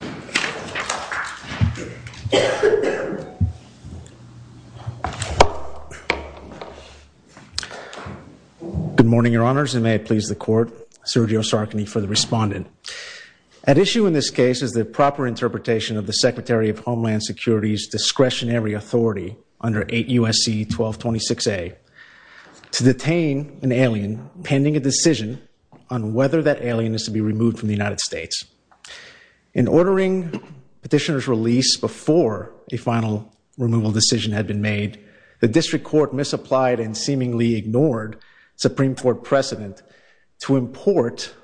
Good morning, your honors, and may it please the court, Sergio Sarkany for the respondent. At issue in this case is the proper interpretation of the Secretary of Homeland Security's discretionary authority under 8 U.S.C. 1226A to detain an alien pending a decision on whether that alien is to be removed from the United States. In ordering petitioner's release before a final removal decision had been made, the district court misapplied and seemingly ignored Supreme Court precedent to import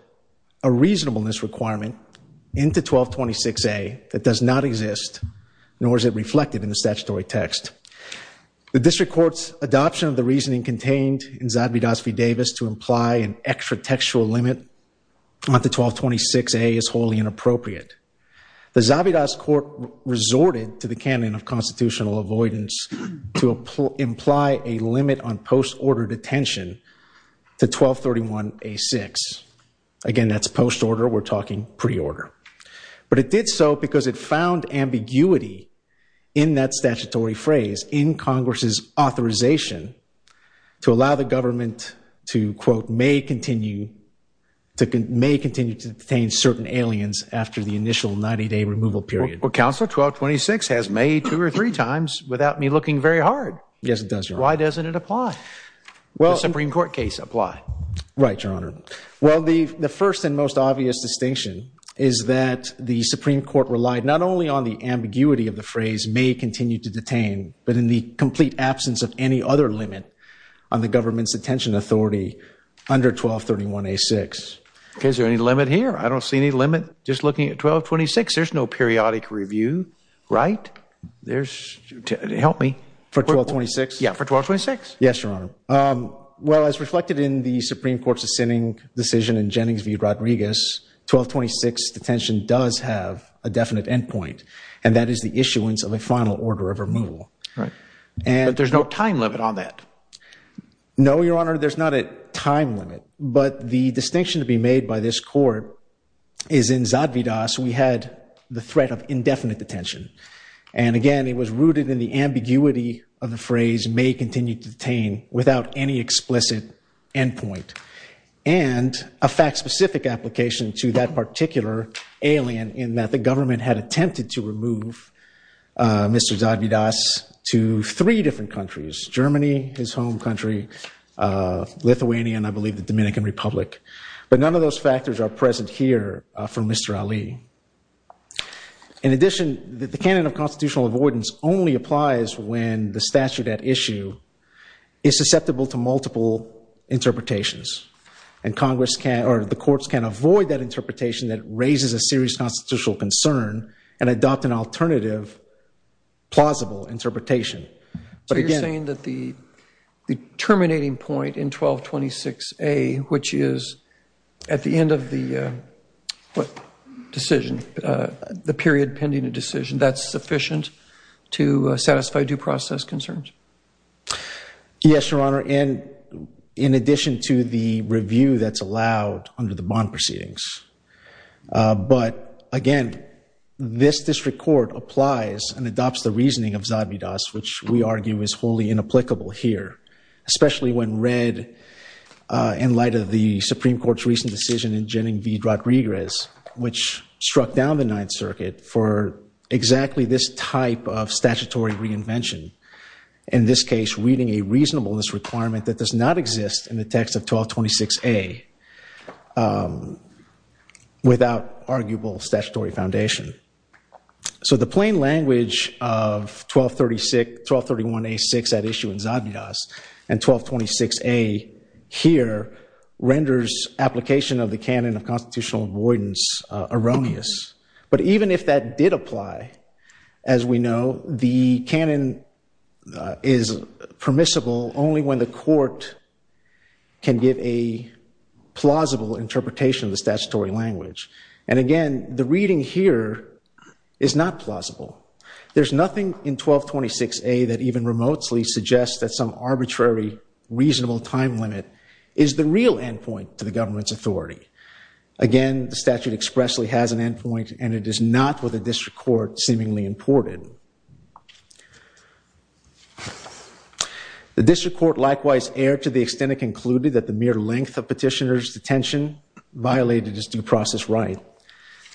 a reasonableness requirement into 1226A that does not exist, nor is it reflected in the statutory text. The district court's adoption of the reasoning contained in Zadvydas v. Davis to imply an extra textual limit on the 1226A is wholly inappropriate. The Zadvydas court resorted to the canon of constitutional avoidance to imply a limit on post-order detention to 1231A6. Again that's post-order, we're talking pre-order. But it did so because it found ambiguity in that statutory phrase in Congress's authorization to allow the government to, quote, may continue to detain certain aliens after the initial 90-day removal period. Well, Counselor, 1226 has made two or three times without me looking very hard. Yes, it does, Your Honor. Why doesn't it apply? Well, Supreme Court case apply. Right, Your Honor. Well, the first and most obvious distinction is that the Supreme Court relied not only on the ambiguity of the phrase may continue to detain, but in the complete absence of any other limit on the government's detention authority under 1231A6. Is there any limit here? I don't see any limit. Just looking at 1226, there's no periodic review, right? There's, help me. For 1226? Yeah, for 1226. Yes, Your Honor. Well, as reflected in the Supreme Court's dissenting decision in Jennings v. Rodriguez, 1226 detention does have a definite endpoint, and that is the issuance of a final order of removal. Right. And there's no time limit on that? No, Your Honor, there's not a time limit. But the distinction to be made by this court is in Zadvydas, we had the threat of indefinite detention. And again, it was rooted in the ambiguity of the phrase may continue to detain without any explicit endpoint. And a fact-specific application to that particular alien in that the government had attempted to remove Mr. Zadvydas to three different countries, Germany, his home country, Lithuania, and I believe the Dominican Republic. But none of those factors are present here for Mr. Ali. In addition, the canon of constitutional avoidance only applies when the statute at issue is susceptible to multiple interpretations. And Congress can, or the courts can avoid that interpretation that raises a serious constitutional concern and adopt an alternative plausible interpretation. So you're saying that the terminating point in 1226A, which is at the end of the decision, the period pending a decision, that's sufficient to satisfy due process concerns? Yes, Your Honor. And in addition to the review that's allowed under the bond proceedings. But again, this district court applies and adopts the reasoning of Zadvydas, which we argue is wholly inapplicable here, especially when read in light of the Supreme Court's recent decision in Jenning v. Rodriguez, which struck down the Ninth Circuit for exactly this type of statutory reinvention. In this case, reading a reasonableness requirement that does not exist in the text of 1226A. Without arguable statutory foundation. So the plain language of 1231A6 at issue in Zadvydas and 1226A here renders application of the canon of constitutional avoidance erroneous. But even if that did apply, as we know, the canon is permissible only when the court can give a plausible interpretation of the statutory language. And again, the reading here is not plausible. There's nothing in 1226A that even remotely suggests that some arbitrary reasonable time limit is the real endpoint to the government's authority. Again, the statute expressly has an endpoint and it is not what the district court seemingly imported. The district court likewise erred to the extent it concluded that the mere length of petitioner's detention violated its due process right.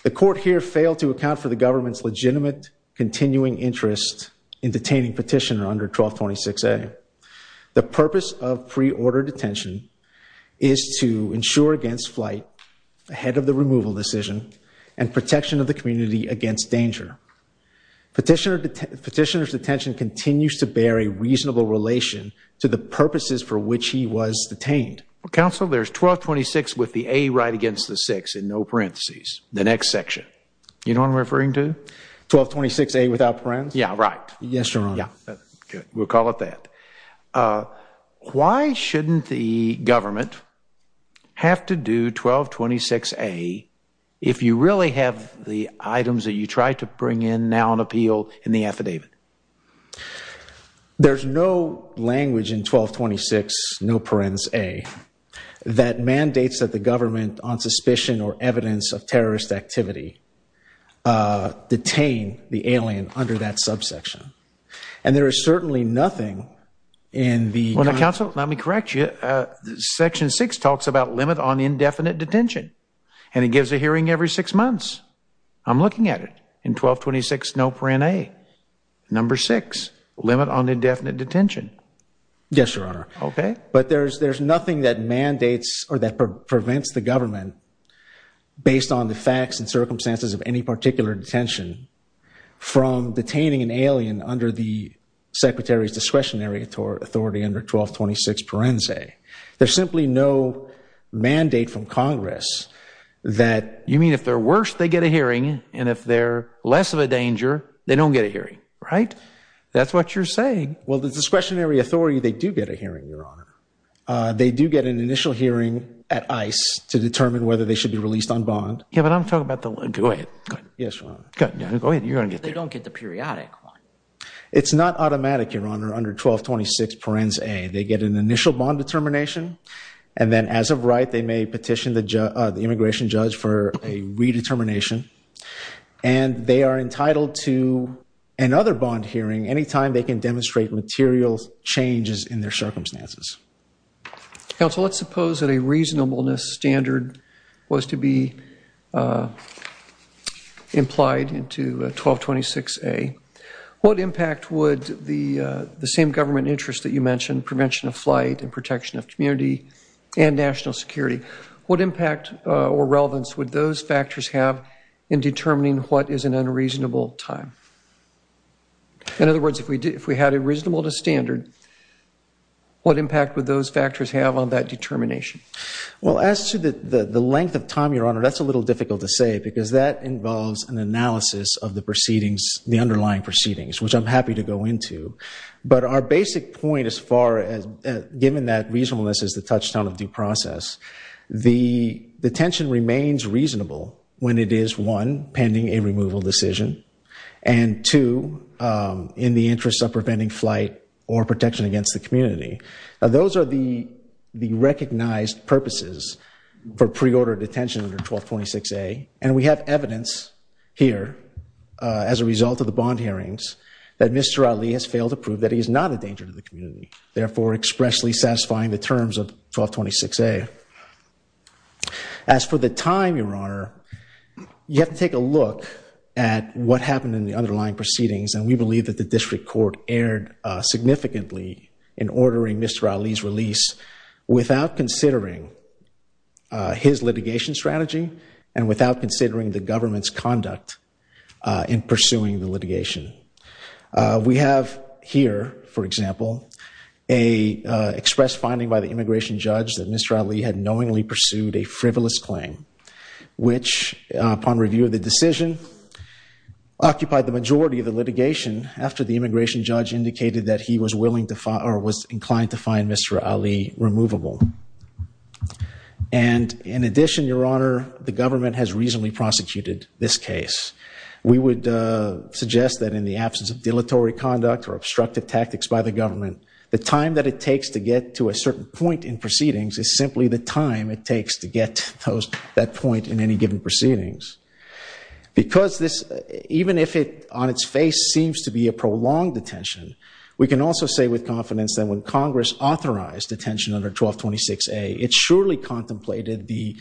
The court here failed to account for the government's legitimate continuing interest in detaining petitioner under 1226A. The purpose of pre-order detention is to ensure against flight, ahead of the removal decision, and protection of the community against danger. Petitioner's detention continues to bear a reasonable relation to the purposes for which he was detained. Counsel, there's 1226 with the A right against the six in no parentheses. The next section. You know what I'm referring to? 1226A without parens? Yeah, right. Yes, Your Honor. Yeah, good. We'll call it that. Why shouldn't the government have to do 1226A if you really have the items that you try to bring in now on appeal in the affidavit? There's no language in 1226, no parens A, that mandates that the government on suspicion or evidence of terrorist activity detain the alien under that subsection. And there is certainly nothing in the- Well now, counsel, let me correct you. Section six talks about limit on indefinite detention and it gives a hearing every six months. I'm looking at it. In 1226, no parens A. Number six, limit on indefinite detention. Yes, Your Honor. Okay. But there's nothing that mandates or that prevents the government, based on the facts and circumstances of any particular detention, from detaining an alien under the secretary's discretionary authority under 1226 parens A. There's simply no mandate from Congress that- And if they're less of a danger, they don't get a hearing, right? That's what you're saying. Well, the discretionary authority, they do get a hearing, Your Honor. They do get an initial hearing at ICE to determine whether they should be released on bond. Yeah, but I'm talking about the- Go ahead. Yes, Your Honor. Go ahead. You're going to get the- They don't get the periodic one. It's not automatic, Your Honor, under 1226 parens A. They get an initial bond determination and then as of right, they may petition the immigration judge for a redetermination and they are entitled to another bond hearing anytime they can demonstrate material changes in their circumstances. Counsel, let's suppose that a reasonableness standard was to be implied into 1226 A. What impact would the same government interest that you mentioned, prevention of flight and community and national security, what impact or relevance would those factors have in determining what is an unreasonable time? In other words, if we had a reasonableness standard, what impact would those factors have on that determination? Well, as to the length of time, Your Honor, that's a little difficult to say because that involves an analysis of the proceedings, the underlying proceedings, which I'm happy to go But our basic point as far as given that reasonableness is the touchstone of due process, the detention remains reasonable when it is, one, pending a removal decision, and two, in the interest of preventing flight or protection against the community. Those are the recognized purposes for pre-ordered detention under 1226 A and we have evidence here as a result of the bond hearings that Mr. Ali has failed to prove that he is not a danger to the community, therefore expressly satisfying the terms of 1226 A. As for the time, Your Honor, you have to take a look at what happened in the underlying proceedings and we believe that the district court erred significantly in ordering Mr. Ali's release without considering his litigation strategy and without considering the government's conduct in pursuing the litigation. We have here, for example, a expressed finding by the immigration judge that Mr. Ali had knowingly pursued a frivolous claim, which upon review of the decision occupied the majority of the litigation after the immigration judge indicated that he was willing to find or was inclined to find Mr. Ali removable. And in addition, Your Honor, the government has prosecuted this case. We would suggest that in the absence of dilatory conduct or obstructive tactics by the government, the time that it takes to get to a certain point in proceedings is simply the time it takes to get to that point in any given proceedings. Because this, even if it on its face seems to be a prolonged detention, we can also say with confidence that when Congress authorized detention under 1226A, it surely contemplated the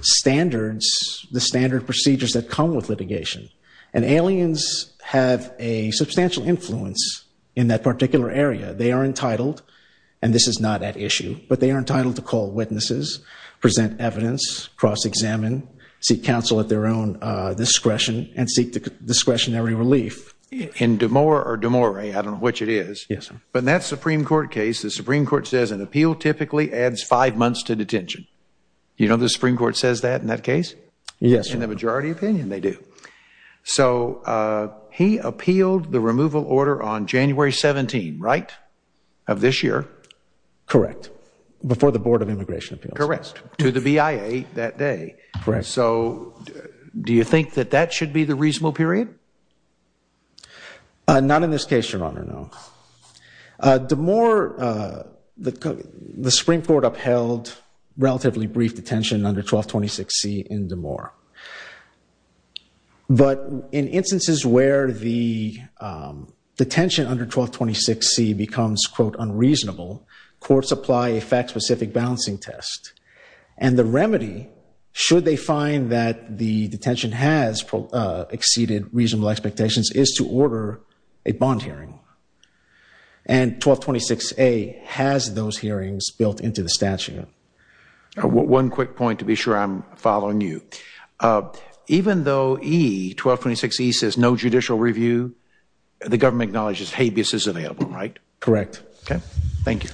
standards, the standard procedures that come with litigation. And aliens have a substantial influence in that particular area. They are entitled, and this is not at issue, but they are entitled to call witnesses, present evidence, cross-examine, seek counsel at their own discretion, and seek discretionary relief. In Damora or Damore, I don't know which it is, but in that Supreme Court case, the Supreme Court says an appeal typically adds five months to detention. You know the Supreme Court says that in that case? Yes. In the majority opinion, they do. So he appealed the removal order on January 17, right, of this year? Correct. Before the Board of Immigration Appeals. Correct. To the BIA that day. Correct. So do you think that that should be the reasonable period? Not in this case, Your Honor, no. Damore, the Supreme Court upheld relatively brief detention under 1226C in Damore. But in instances where the detention under 1226C becomes, quote, unreasonable, courts apply a fact-specific balancing test. And the remedy, should they find that the detention has exceeded reasonable expectations, is to order a bond hearing. And 1226A has those hearings built into the statute. One quick point to be sure I'm following you. Even though 1226E says no judicial review, the government acknowledges habeas is available, right? Correct. Okay, thank you.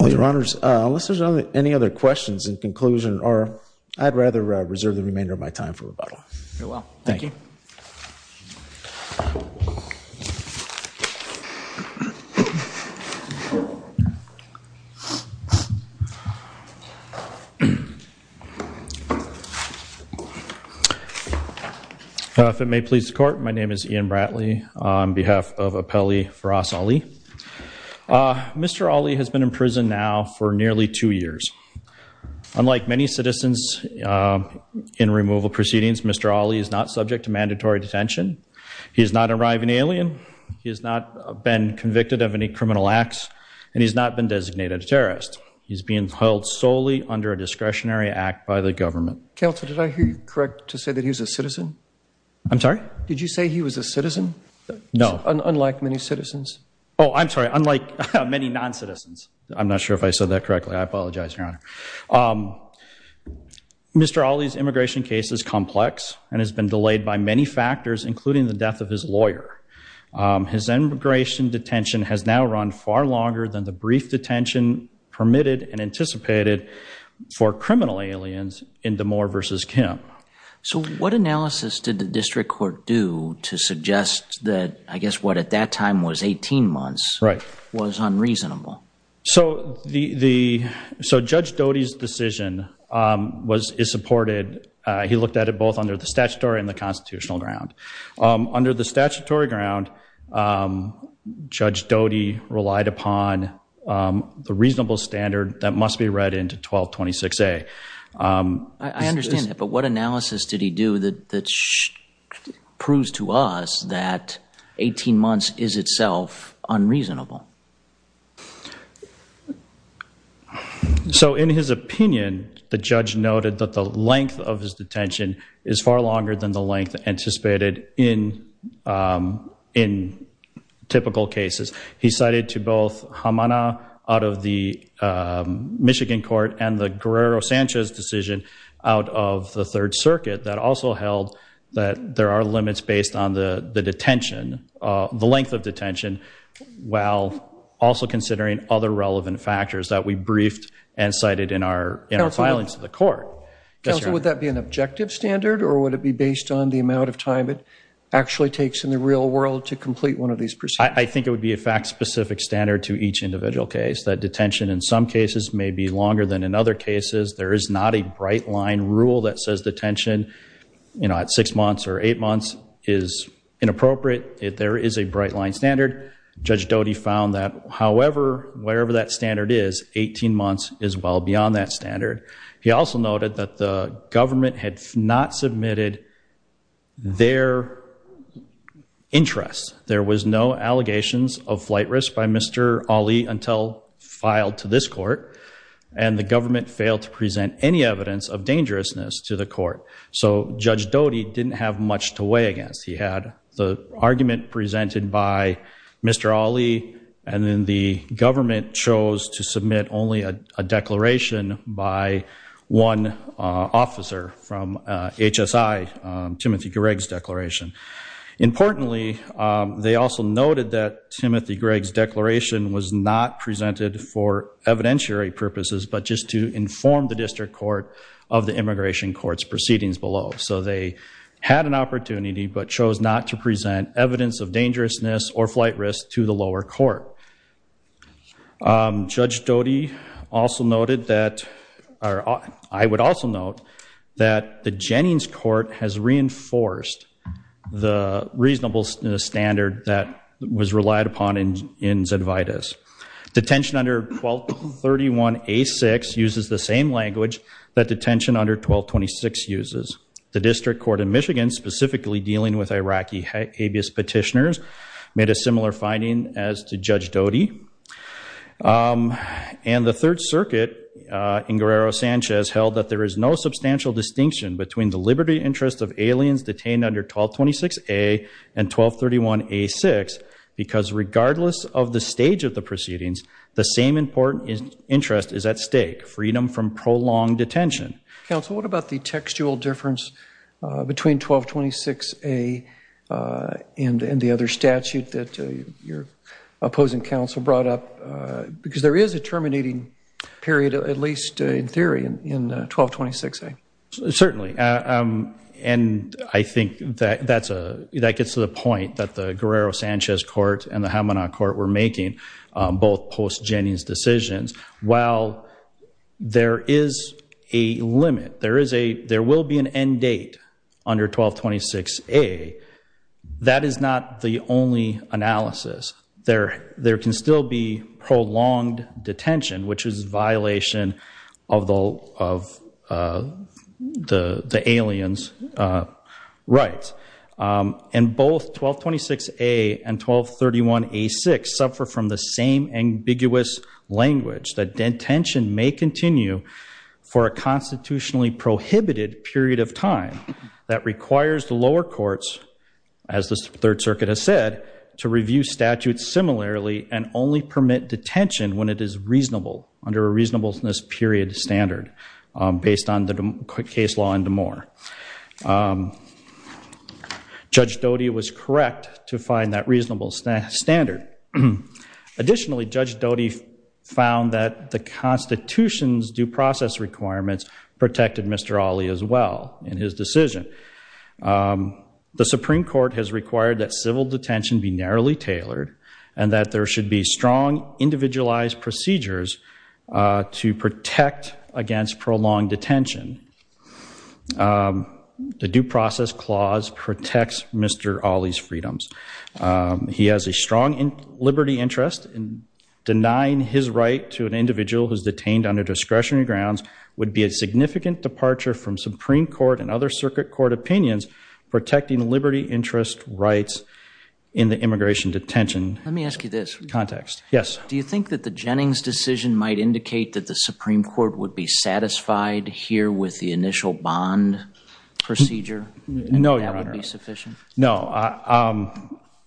Well, Your Honors, unless there's any other questions in conclusion, or I'd rather reserve the remainder of my time for rebuttal. Very well. Thank you. If it may please the Court, my name is Ian Bratley on behalf of Appellee Firas Ali. Mr. Ali has been in prison now for nearly two years. Unlike many citizens in removal proceedings, Mr. Ali is not subject to mandatory detention. He has not arrived an alien. He has not been convicted of any criminal acts, and he's not been designated a terrorist. He's being held solely under a discretionary act by the government. Counselor, did I hear you correct to say that he was a citizen? I'm sorry? Did you say he was a citizen? No. Unlike many citizens. Oh, I'm sorry. Unlike many non-citizens. I'm not sure if I said that correctly. I apologize, Your Honor. Mr. Ali's immigration case is complex and has been delayed by many factors, including the death of his lawyer. His immigration detention has now run far longer than the brief detention permitted and anticipated for criminal aliens in Damore v. Kim. So what analysis did the District Court do to suggest that, I guess, what at that time was his decision was supported? He looked at it both under the statutory and the constitutional ground. Under the statutory ground, Judge Doty relied upon the reasonable standard that must be read into 1226A. I understand that, but what analysis did he do that proves to us that 18 months is unreasonable? So, in his opinion, the judge noted that the length of his detention is far longer than the length anticipated in typical cases. He cited to both Hamana out of the Michigan court and the Guerrero-Sanchez decision out of the Third Circuit that also held that there are limits based on the detention, the length of detention, while also considering other relevant factors that we briefed and cited in our filings to the court. Counsel, would that be an objective standard or would it be based on the amount of time it actually takes in the real world to complete one of these proceedings? I think it would be a fact-specific standard to each individual case, that detention in some cases may be longer than in other cases. There is not a bright-line rule that says detention at six months or eight months is inappropriate. There is a bright-line standard. Judge Doty found that, however, wherever that standard is, 18 months is well beyond that standard. He also noted that the government had not submitted their interests. There was no allegations of flight risk by Mr. Ali until filed to this court, and the government failed to present any evidence of dangerousness to the court. So Judge Doty didn't have much to weigh against. He had the argument presented by Mr. Ali, and then the government chose to submit only a declaration by one officer from HSI, Timothy Gregg's declaration. Importantly, they also noted that Timothy Gregg's declaration was not presented for evidentiary purposes, but just to inform the district court of the immigration court's proceedings below. So they had an opportunity, but chose not to present evidence of dangerousness or flight risk to the lower court. Judge Doty also noted that, or I would also note, that the Jennings court has reinforced the reasonable standard that was relied upon in Zedvitas. Detention under 1231A6 uses the same language that detention under 1226 uses. The district court in Michigan, specifically dealing with Iraqi habeas petitioners, made a similar finding as to Judge Doty. And the Third Circuit in Guerrero Sanchez held that there is no substantial distinction between the liberty interest of aliens detained under 1226A and 1231A6 because regardless of the stage of the proceedings, the same important interest is at stake, freedom from prolonged detention. Counsel, what about the textual difference between 1226A and the other statute that your opposing counsel brought up? Because there is a terminating period, at least in theory, in 1226A. Certainly, and I think that gets to the point that the Guerrero Sanchez court and the Hamana court were making both post-Jennings decisions. While there is a limit, there will be an end date under 1226A. That is not the only analysis. There can still be prolonged detention, which is a violation of the alien's rights. And both 1226A and 1231A6 suffer from the same ambiguous language that detention may continue for a constitutionally prohibited period of time that requires the lower courts, as the Third Circuit has said, to review statutes similarly and only permit detention when it is reasonable, under a reasonableness period standard, based on the case law in Damore. Judge Doty was correct to find that reasonable standard. Additionally, Judge Doty found that the Constitution's due process requirements protected Mr. Ali as well in his decision. The Supreme Court has required that civil detention be narrowly tailored and that there should be strong individualized procedures to protect against prolonged detention. The due process clause protects Mr. Ali's freedoms. He has a strong liberty interest in denying his right to an individual who's detained under discretionary grounds would be a significant departure from Supreme Court and other circuit court opinions protecting liberty interest rights in the immigration detention context. Yes. Do you think that the Jennings decision might indicate that the Supreme Court would be satisfied here with the initial bond procedure? No, Your Honor. That would be sufficient? No.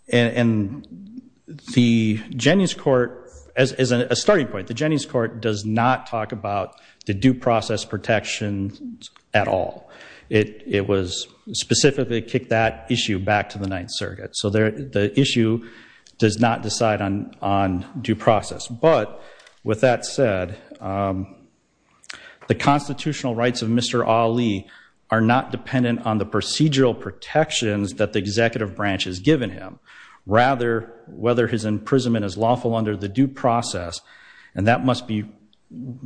The Jennings court, as a starting point, the Jennings court does not talk about the due process protections at all. It specifically kicked that issue back to the Ninth Circuit. So the issue does not decide on due process. But with that said, the constitutional rights of Mr. Ali are not dependent on the procedural protections that the executive branch has given him. Rather, whether his imprisonment is lawful under the due process, and that must be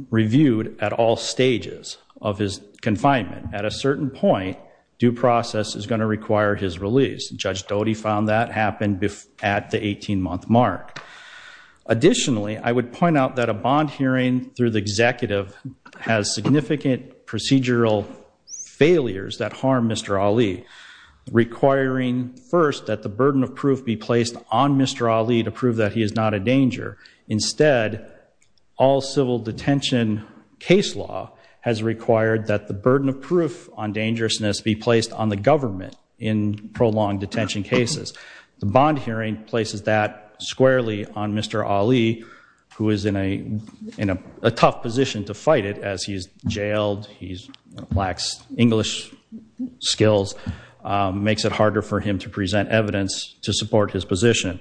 reviewed at all stages of his confinement. At a certain point, due process is going to require his release. Judge at the 18 month mark. Additionally, I would point out that a bond hearing through the executive has significant procedural failures that harm Mr. Ali. Requiring first that the burden of proof be placed on Mr. Ali to prove that he is not a danger. Instead, all civil detention case law has required that the burden of proof on dangerousness be placed on the government in prolonged detention cases. The bond hearing places that squarely on Mr. Ali, who is in a tough position to fight it as he's jailed, he lacks English skills, makes it harder for him to present evidence to support his position.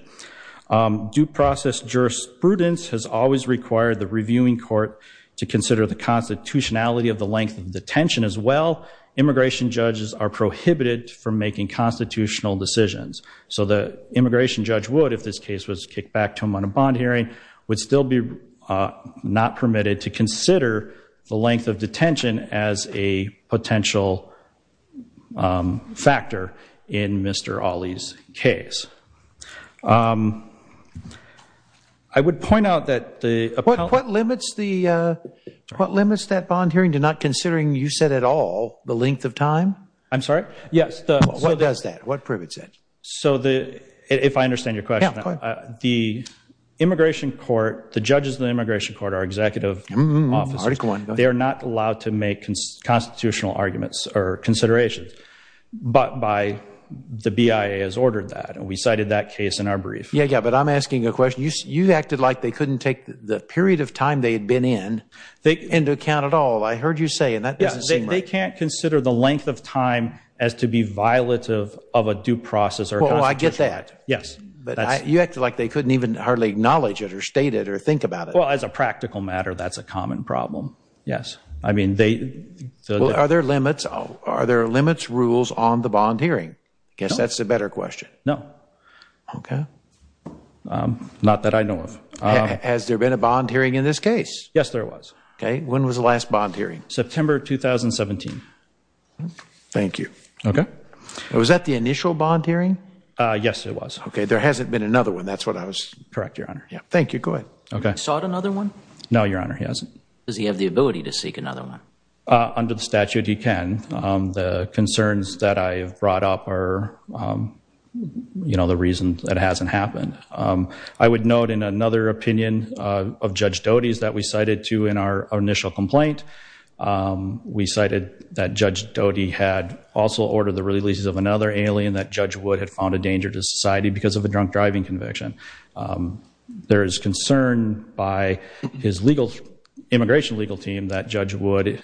Due process jurisprudence has always required the reviewing court to consider the constitutionality of the length of detention as well. Immigration judges are prohibited from making constitutional decisions. So the immigration judge would, if this case was kicked back to him on a bond hearing, would still be not permitted to consider the length of detention as a potential factor in Mr. Ali's case. I would point out that the- What limits the, uh, what limits that bond hearing to not considering, you said at all, the length of time? I'm sorry? Yes. What does that, what proves it? So the, if I understand your question, the immigration court, the judges in the immigration court are executive officers. They are not allowed to make constitutional arguments or considerations, but by the BIA has ordered that and we cited that case in our brief. Yeah, yeah, but I'm asking a the period of time they had been in, into account at all, I heard you say in that business. They can't consider the length of time as to be violative of a due process or- Well, I get that. Yes. But you acted like they couldn't even hardly acknowledge it or state it or think about it. Well, as a practical matter, that's a common problem. Yes. I mean, they- So are there limits, are there limits rules on the bond hearing? I guess that's a better question. No. Okay. Not that I know of. Has there been a bond hearing in this case? Yes, there was. Okay. When was the last bond hearing? September, 2017. Thank you. Okay. Was that the initial bond hearing? Yes, it was. Okay. There hasn't been another one. That's what I was- Correct, Your Honor. Yeah. Thank you. Go ahead. Okay. He sought another one? No, Your Honor, he hasn't. Does he have the ability to seek another one? Under the statute, he can. The concerns that I have brought up are, you know, the reason that it hasn't happened. I would note in another opinion of Judge Doty's that we cited too in our initial complaint, we cited that Judge Doty had also ordered the releases of another alien that Judge Wood had found a danger to society because of a drunk driving conviction. There is concern by his immigration legal team that Judge Wood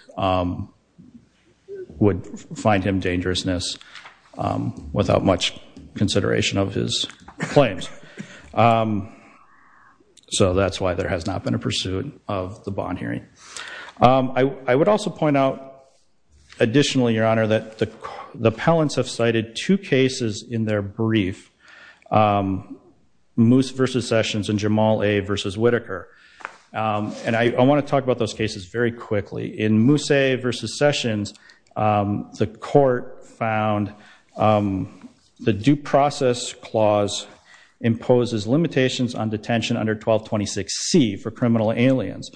would find him dangerousness without much consideration of his claims. So that's why there has not been a pursuit of the bond hearing. I would also point out additionally, Your Honor, that the appellants have cited two cases in their brief, Moose v. Sessions and Jamal A. v. Whitaker. And I want to talk about those cases very quickly. In Moose v. Sessions, the court found the due process clause imposes limitations on detention under 1226C for criminal aliens.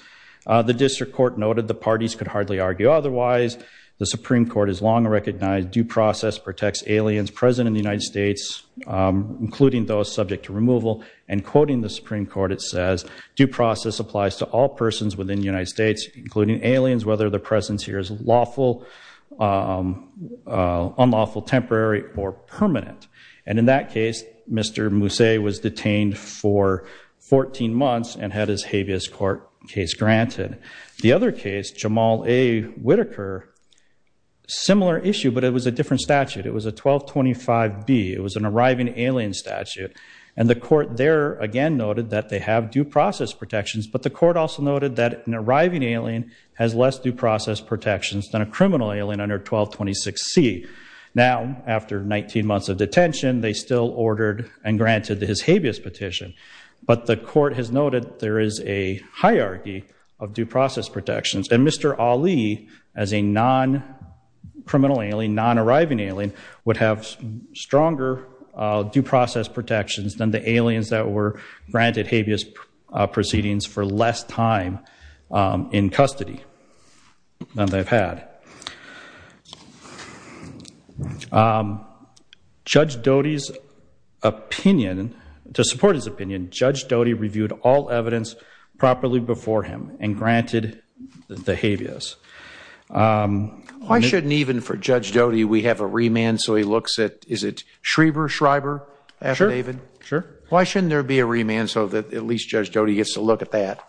The district court noted the parties could hardly argue otherwise. The Supreme Court has long recognized due process protects aliens present in the United States, including those subject to removal. And quoting the Supreme Court, it says, due process applies to all persons within the United States, including aliens, whether the presence here is lawful, unlawful, temporary, or permanent. And in that case, Mr. Moose was detained for 14 months and had his habeas court case granted. The other case, Jamal A. Whitaker, similar issue, but it was a different statute. It was a 1225B. It was an arriving alien statute. And the court there, again, noted that they have due process protections. But the court also noted that an arriving alien has less due process protections than a criminal alien under 1226C. Now, after 19 months of detention, they still ordered and granted his habeas petition. But the court has noted there is a hierarchy of due process protections. And Mr. Ali, as a non-criminal alien, non-arriving alien, would have stronger due process protections than the aliens that were granted habeas proceedings for less time in custody than they've had. Judge Doty's opinion, to support his opinion, Judge Doty reviewed all evidence properly before him and granted the habeas. Why shouldn't even, for Judge Doty, we have a remand so he looks at, is it Schreiber after David? Sure. Why shouldn't there be a remand so that at least Judge Doty gets to look at that?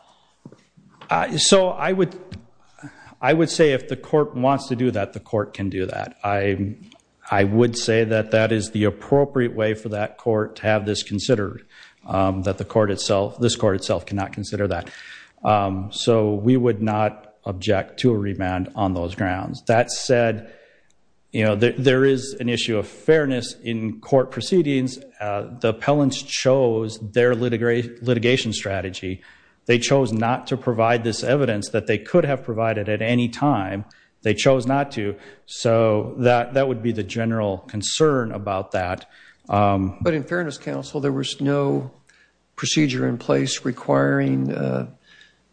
So I would say if the court wants to do that, the court can do that. I would say that that is the case. So we would not object to a remand on those grounds. That said, you know, there is an issue of fairness in court proceedings. The appellants chose their litigation strategy. They chose not to provide this evidence that they could have provided at any time. They chose not to. So that would be the general concern about that. But in fairness, there was no procedure in place requiring a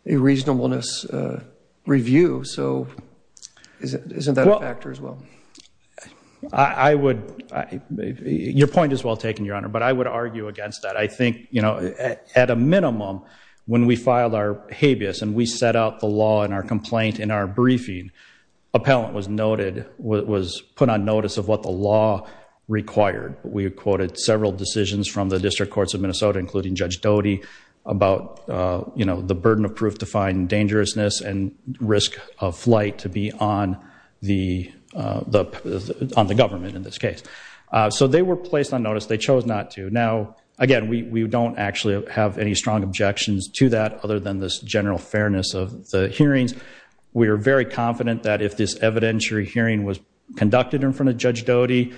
reasonableness review. So isn't that a factor as well? Your point is well taken, Your Honor, but I would argue against that. I think, you know, at a minimum, when we filed our habeas and we set out the law in our complaint, in our briefing, appellant was noted, was put on notice of what the law required. We quoted several decisions from the District Courts of Minnesota, including Judge Doty, about, you know, the burden of proof to find dangerousness and risk of flight to be on the government in this case. So they were placed on notice. They chose not to. Now, again, we don't actually have any strong objections to that other than this general fairness of the hearings. We are very confident that if this evidentiary hearing was conducted in front of Judge Doty,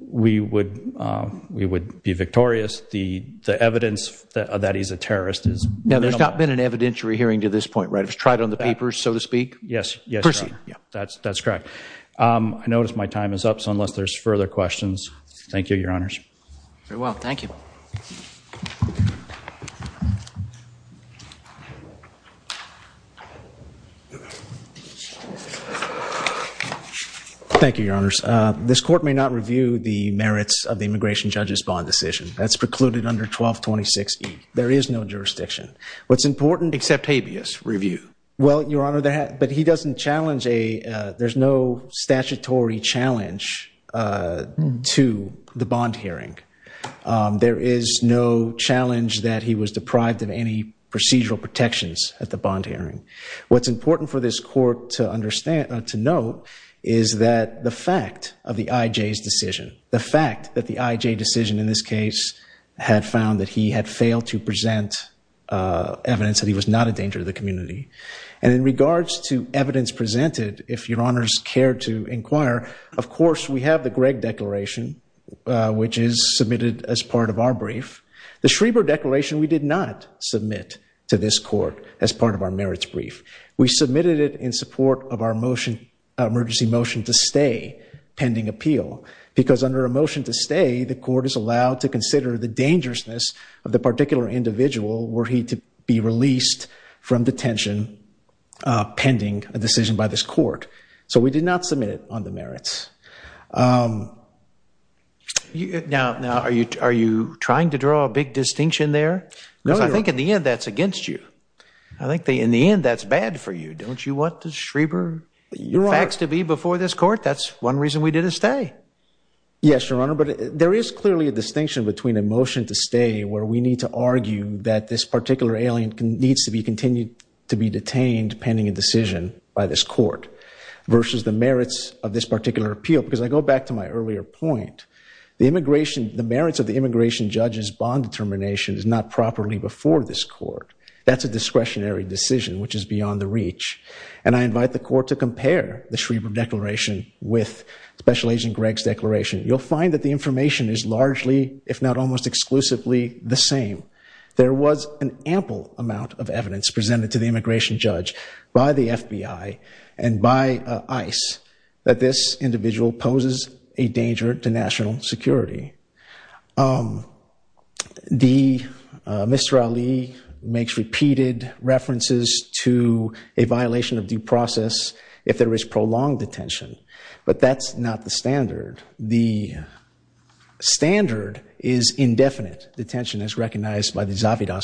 we would be victorious. The evidence that he's a terrorist is minimal. Now, there's not been an evidentiary hearing to this point, right? It was tried on the papers, so to speak? Yes. Yes, Your Honor. That's correct. I notice my time is up, so unless there's further questions, thank you, Your Honors. Very well, thank you. Thank you, Your Honors. This Court may not review the merits of the immigration judge's bond decision. That's precluded under 1226E. There is no jurisdiction. What's important? Accept habeas review. Well, Your Honor, but he doesn't challenge a, there's no statutory challenge to the bond hearing. There is no challenge that he was deprived of any procedural protections at the bond hearing. What's important for this Court to understand, to note, is that the fact of the IJ's decision, the fact that the IJ decision in this case had found that he had failed to present evidence that he was not a danger to the community. And in regards to the Schreber declaration, which is submitted as part of our brief, the Schreber declaration, we did not submit to this Court as part of our merits brief. We submitted it in support of our emergency motion to stay pending appeal, because under a motion to stay, the Court is allowed to consider the dangerousness of the particular individual were he to be released from detention pending a decision by this Court. So we did not submit it on the merits. Now, are you trying to draw a big distinction there? Because I think in the end that's against you. I think in the end that's bad for you. Don't you want the Schreber facts to be before this Court? That's one reason we did a stay. Yes, Your Honor, but there is clearly a distinction between a motion to stay where we need to argue that this particular alien needs to be continued to be detained pending a decision by this Court versus the merits of this particular appeal. Because I go back to my earlier point, the immigration, the merits of the immigration judge's bond determination is not properly before this Court. That's a discretionary decision, which is beyond the reach. And I invite the Court to compare the Schreber declaration with Special Agent Gregg's declaration. You'll find that the information is largely, if not almost exclusively, the same. There was an ample amount of evidence presented to the immigration judge by the FBI and by ICE that this individual poses a danger to national security. Mr. Ali makes repeated references to a violation of due process if there is prolonged detention, but that's not the standard. The standard is indefinite. Detention is recognized by the 1226A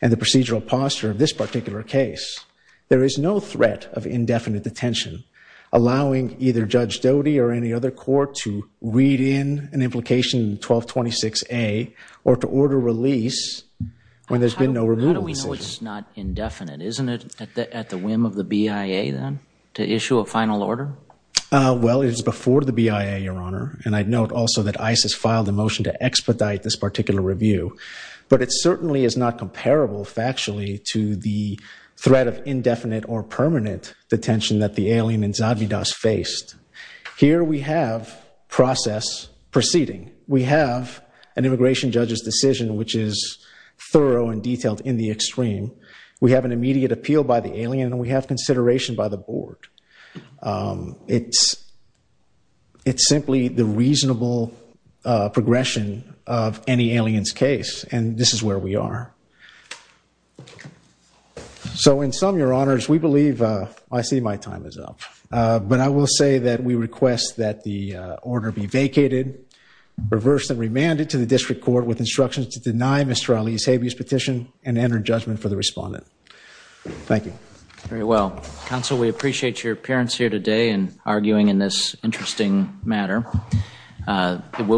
and the procedural posture of this particular case. There is no threat of indefinite detention allowing either Judge Doty or any other court to read in an implication in 1226A or to order release when there's been no removal. How do we know it's not indefinite? Isn't it at the whim of the BIA then to issue a final order? Well, it is before the BIA, Your Honor, and I'd note also that ICE has filed a motion to expedite this particular review, but it certainly is not comparable factually to the threat of indefinite or permanent detention that the alien in Zadvydas faced. Here we have process proceeding. We have an immigration judge's decision, which is thorough and detailed in the extreme. We have an immediate appeal by the alien and we have consideration by the board. Um, it's, it's simply the reasonable, uh, progression of any alien's case and this is where we are. So in sum, Your Honors, we believe, uh, I see my time is up, uh, but I will say that we request that the, uh, order be vacated, reversed and remanded to the district court with instructions to deny Mr. Ali's habeas petition and enter judgment for the respondent. Thank you. Very well. Counsel, we appreciate your appearance here today and arguing in this interesting matter. Uh, it will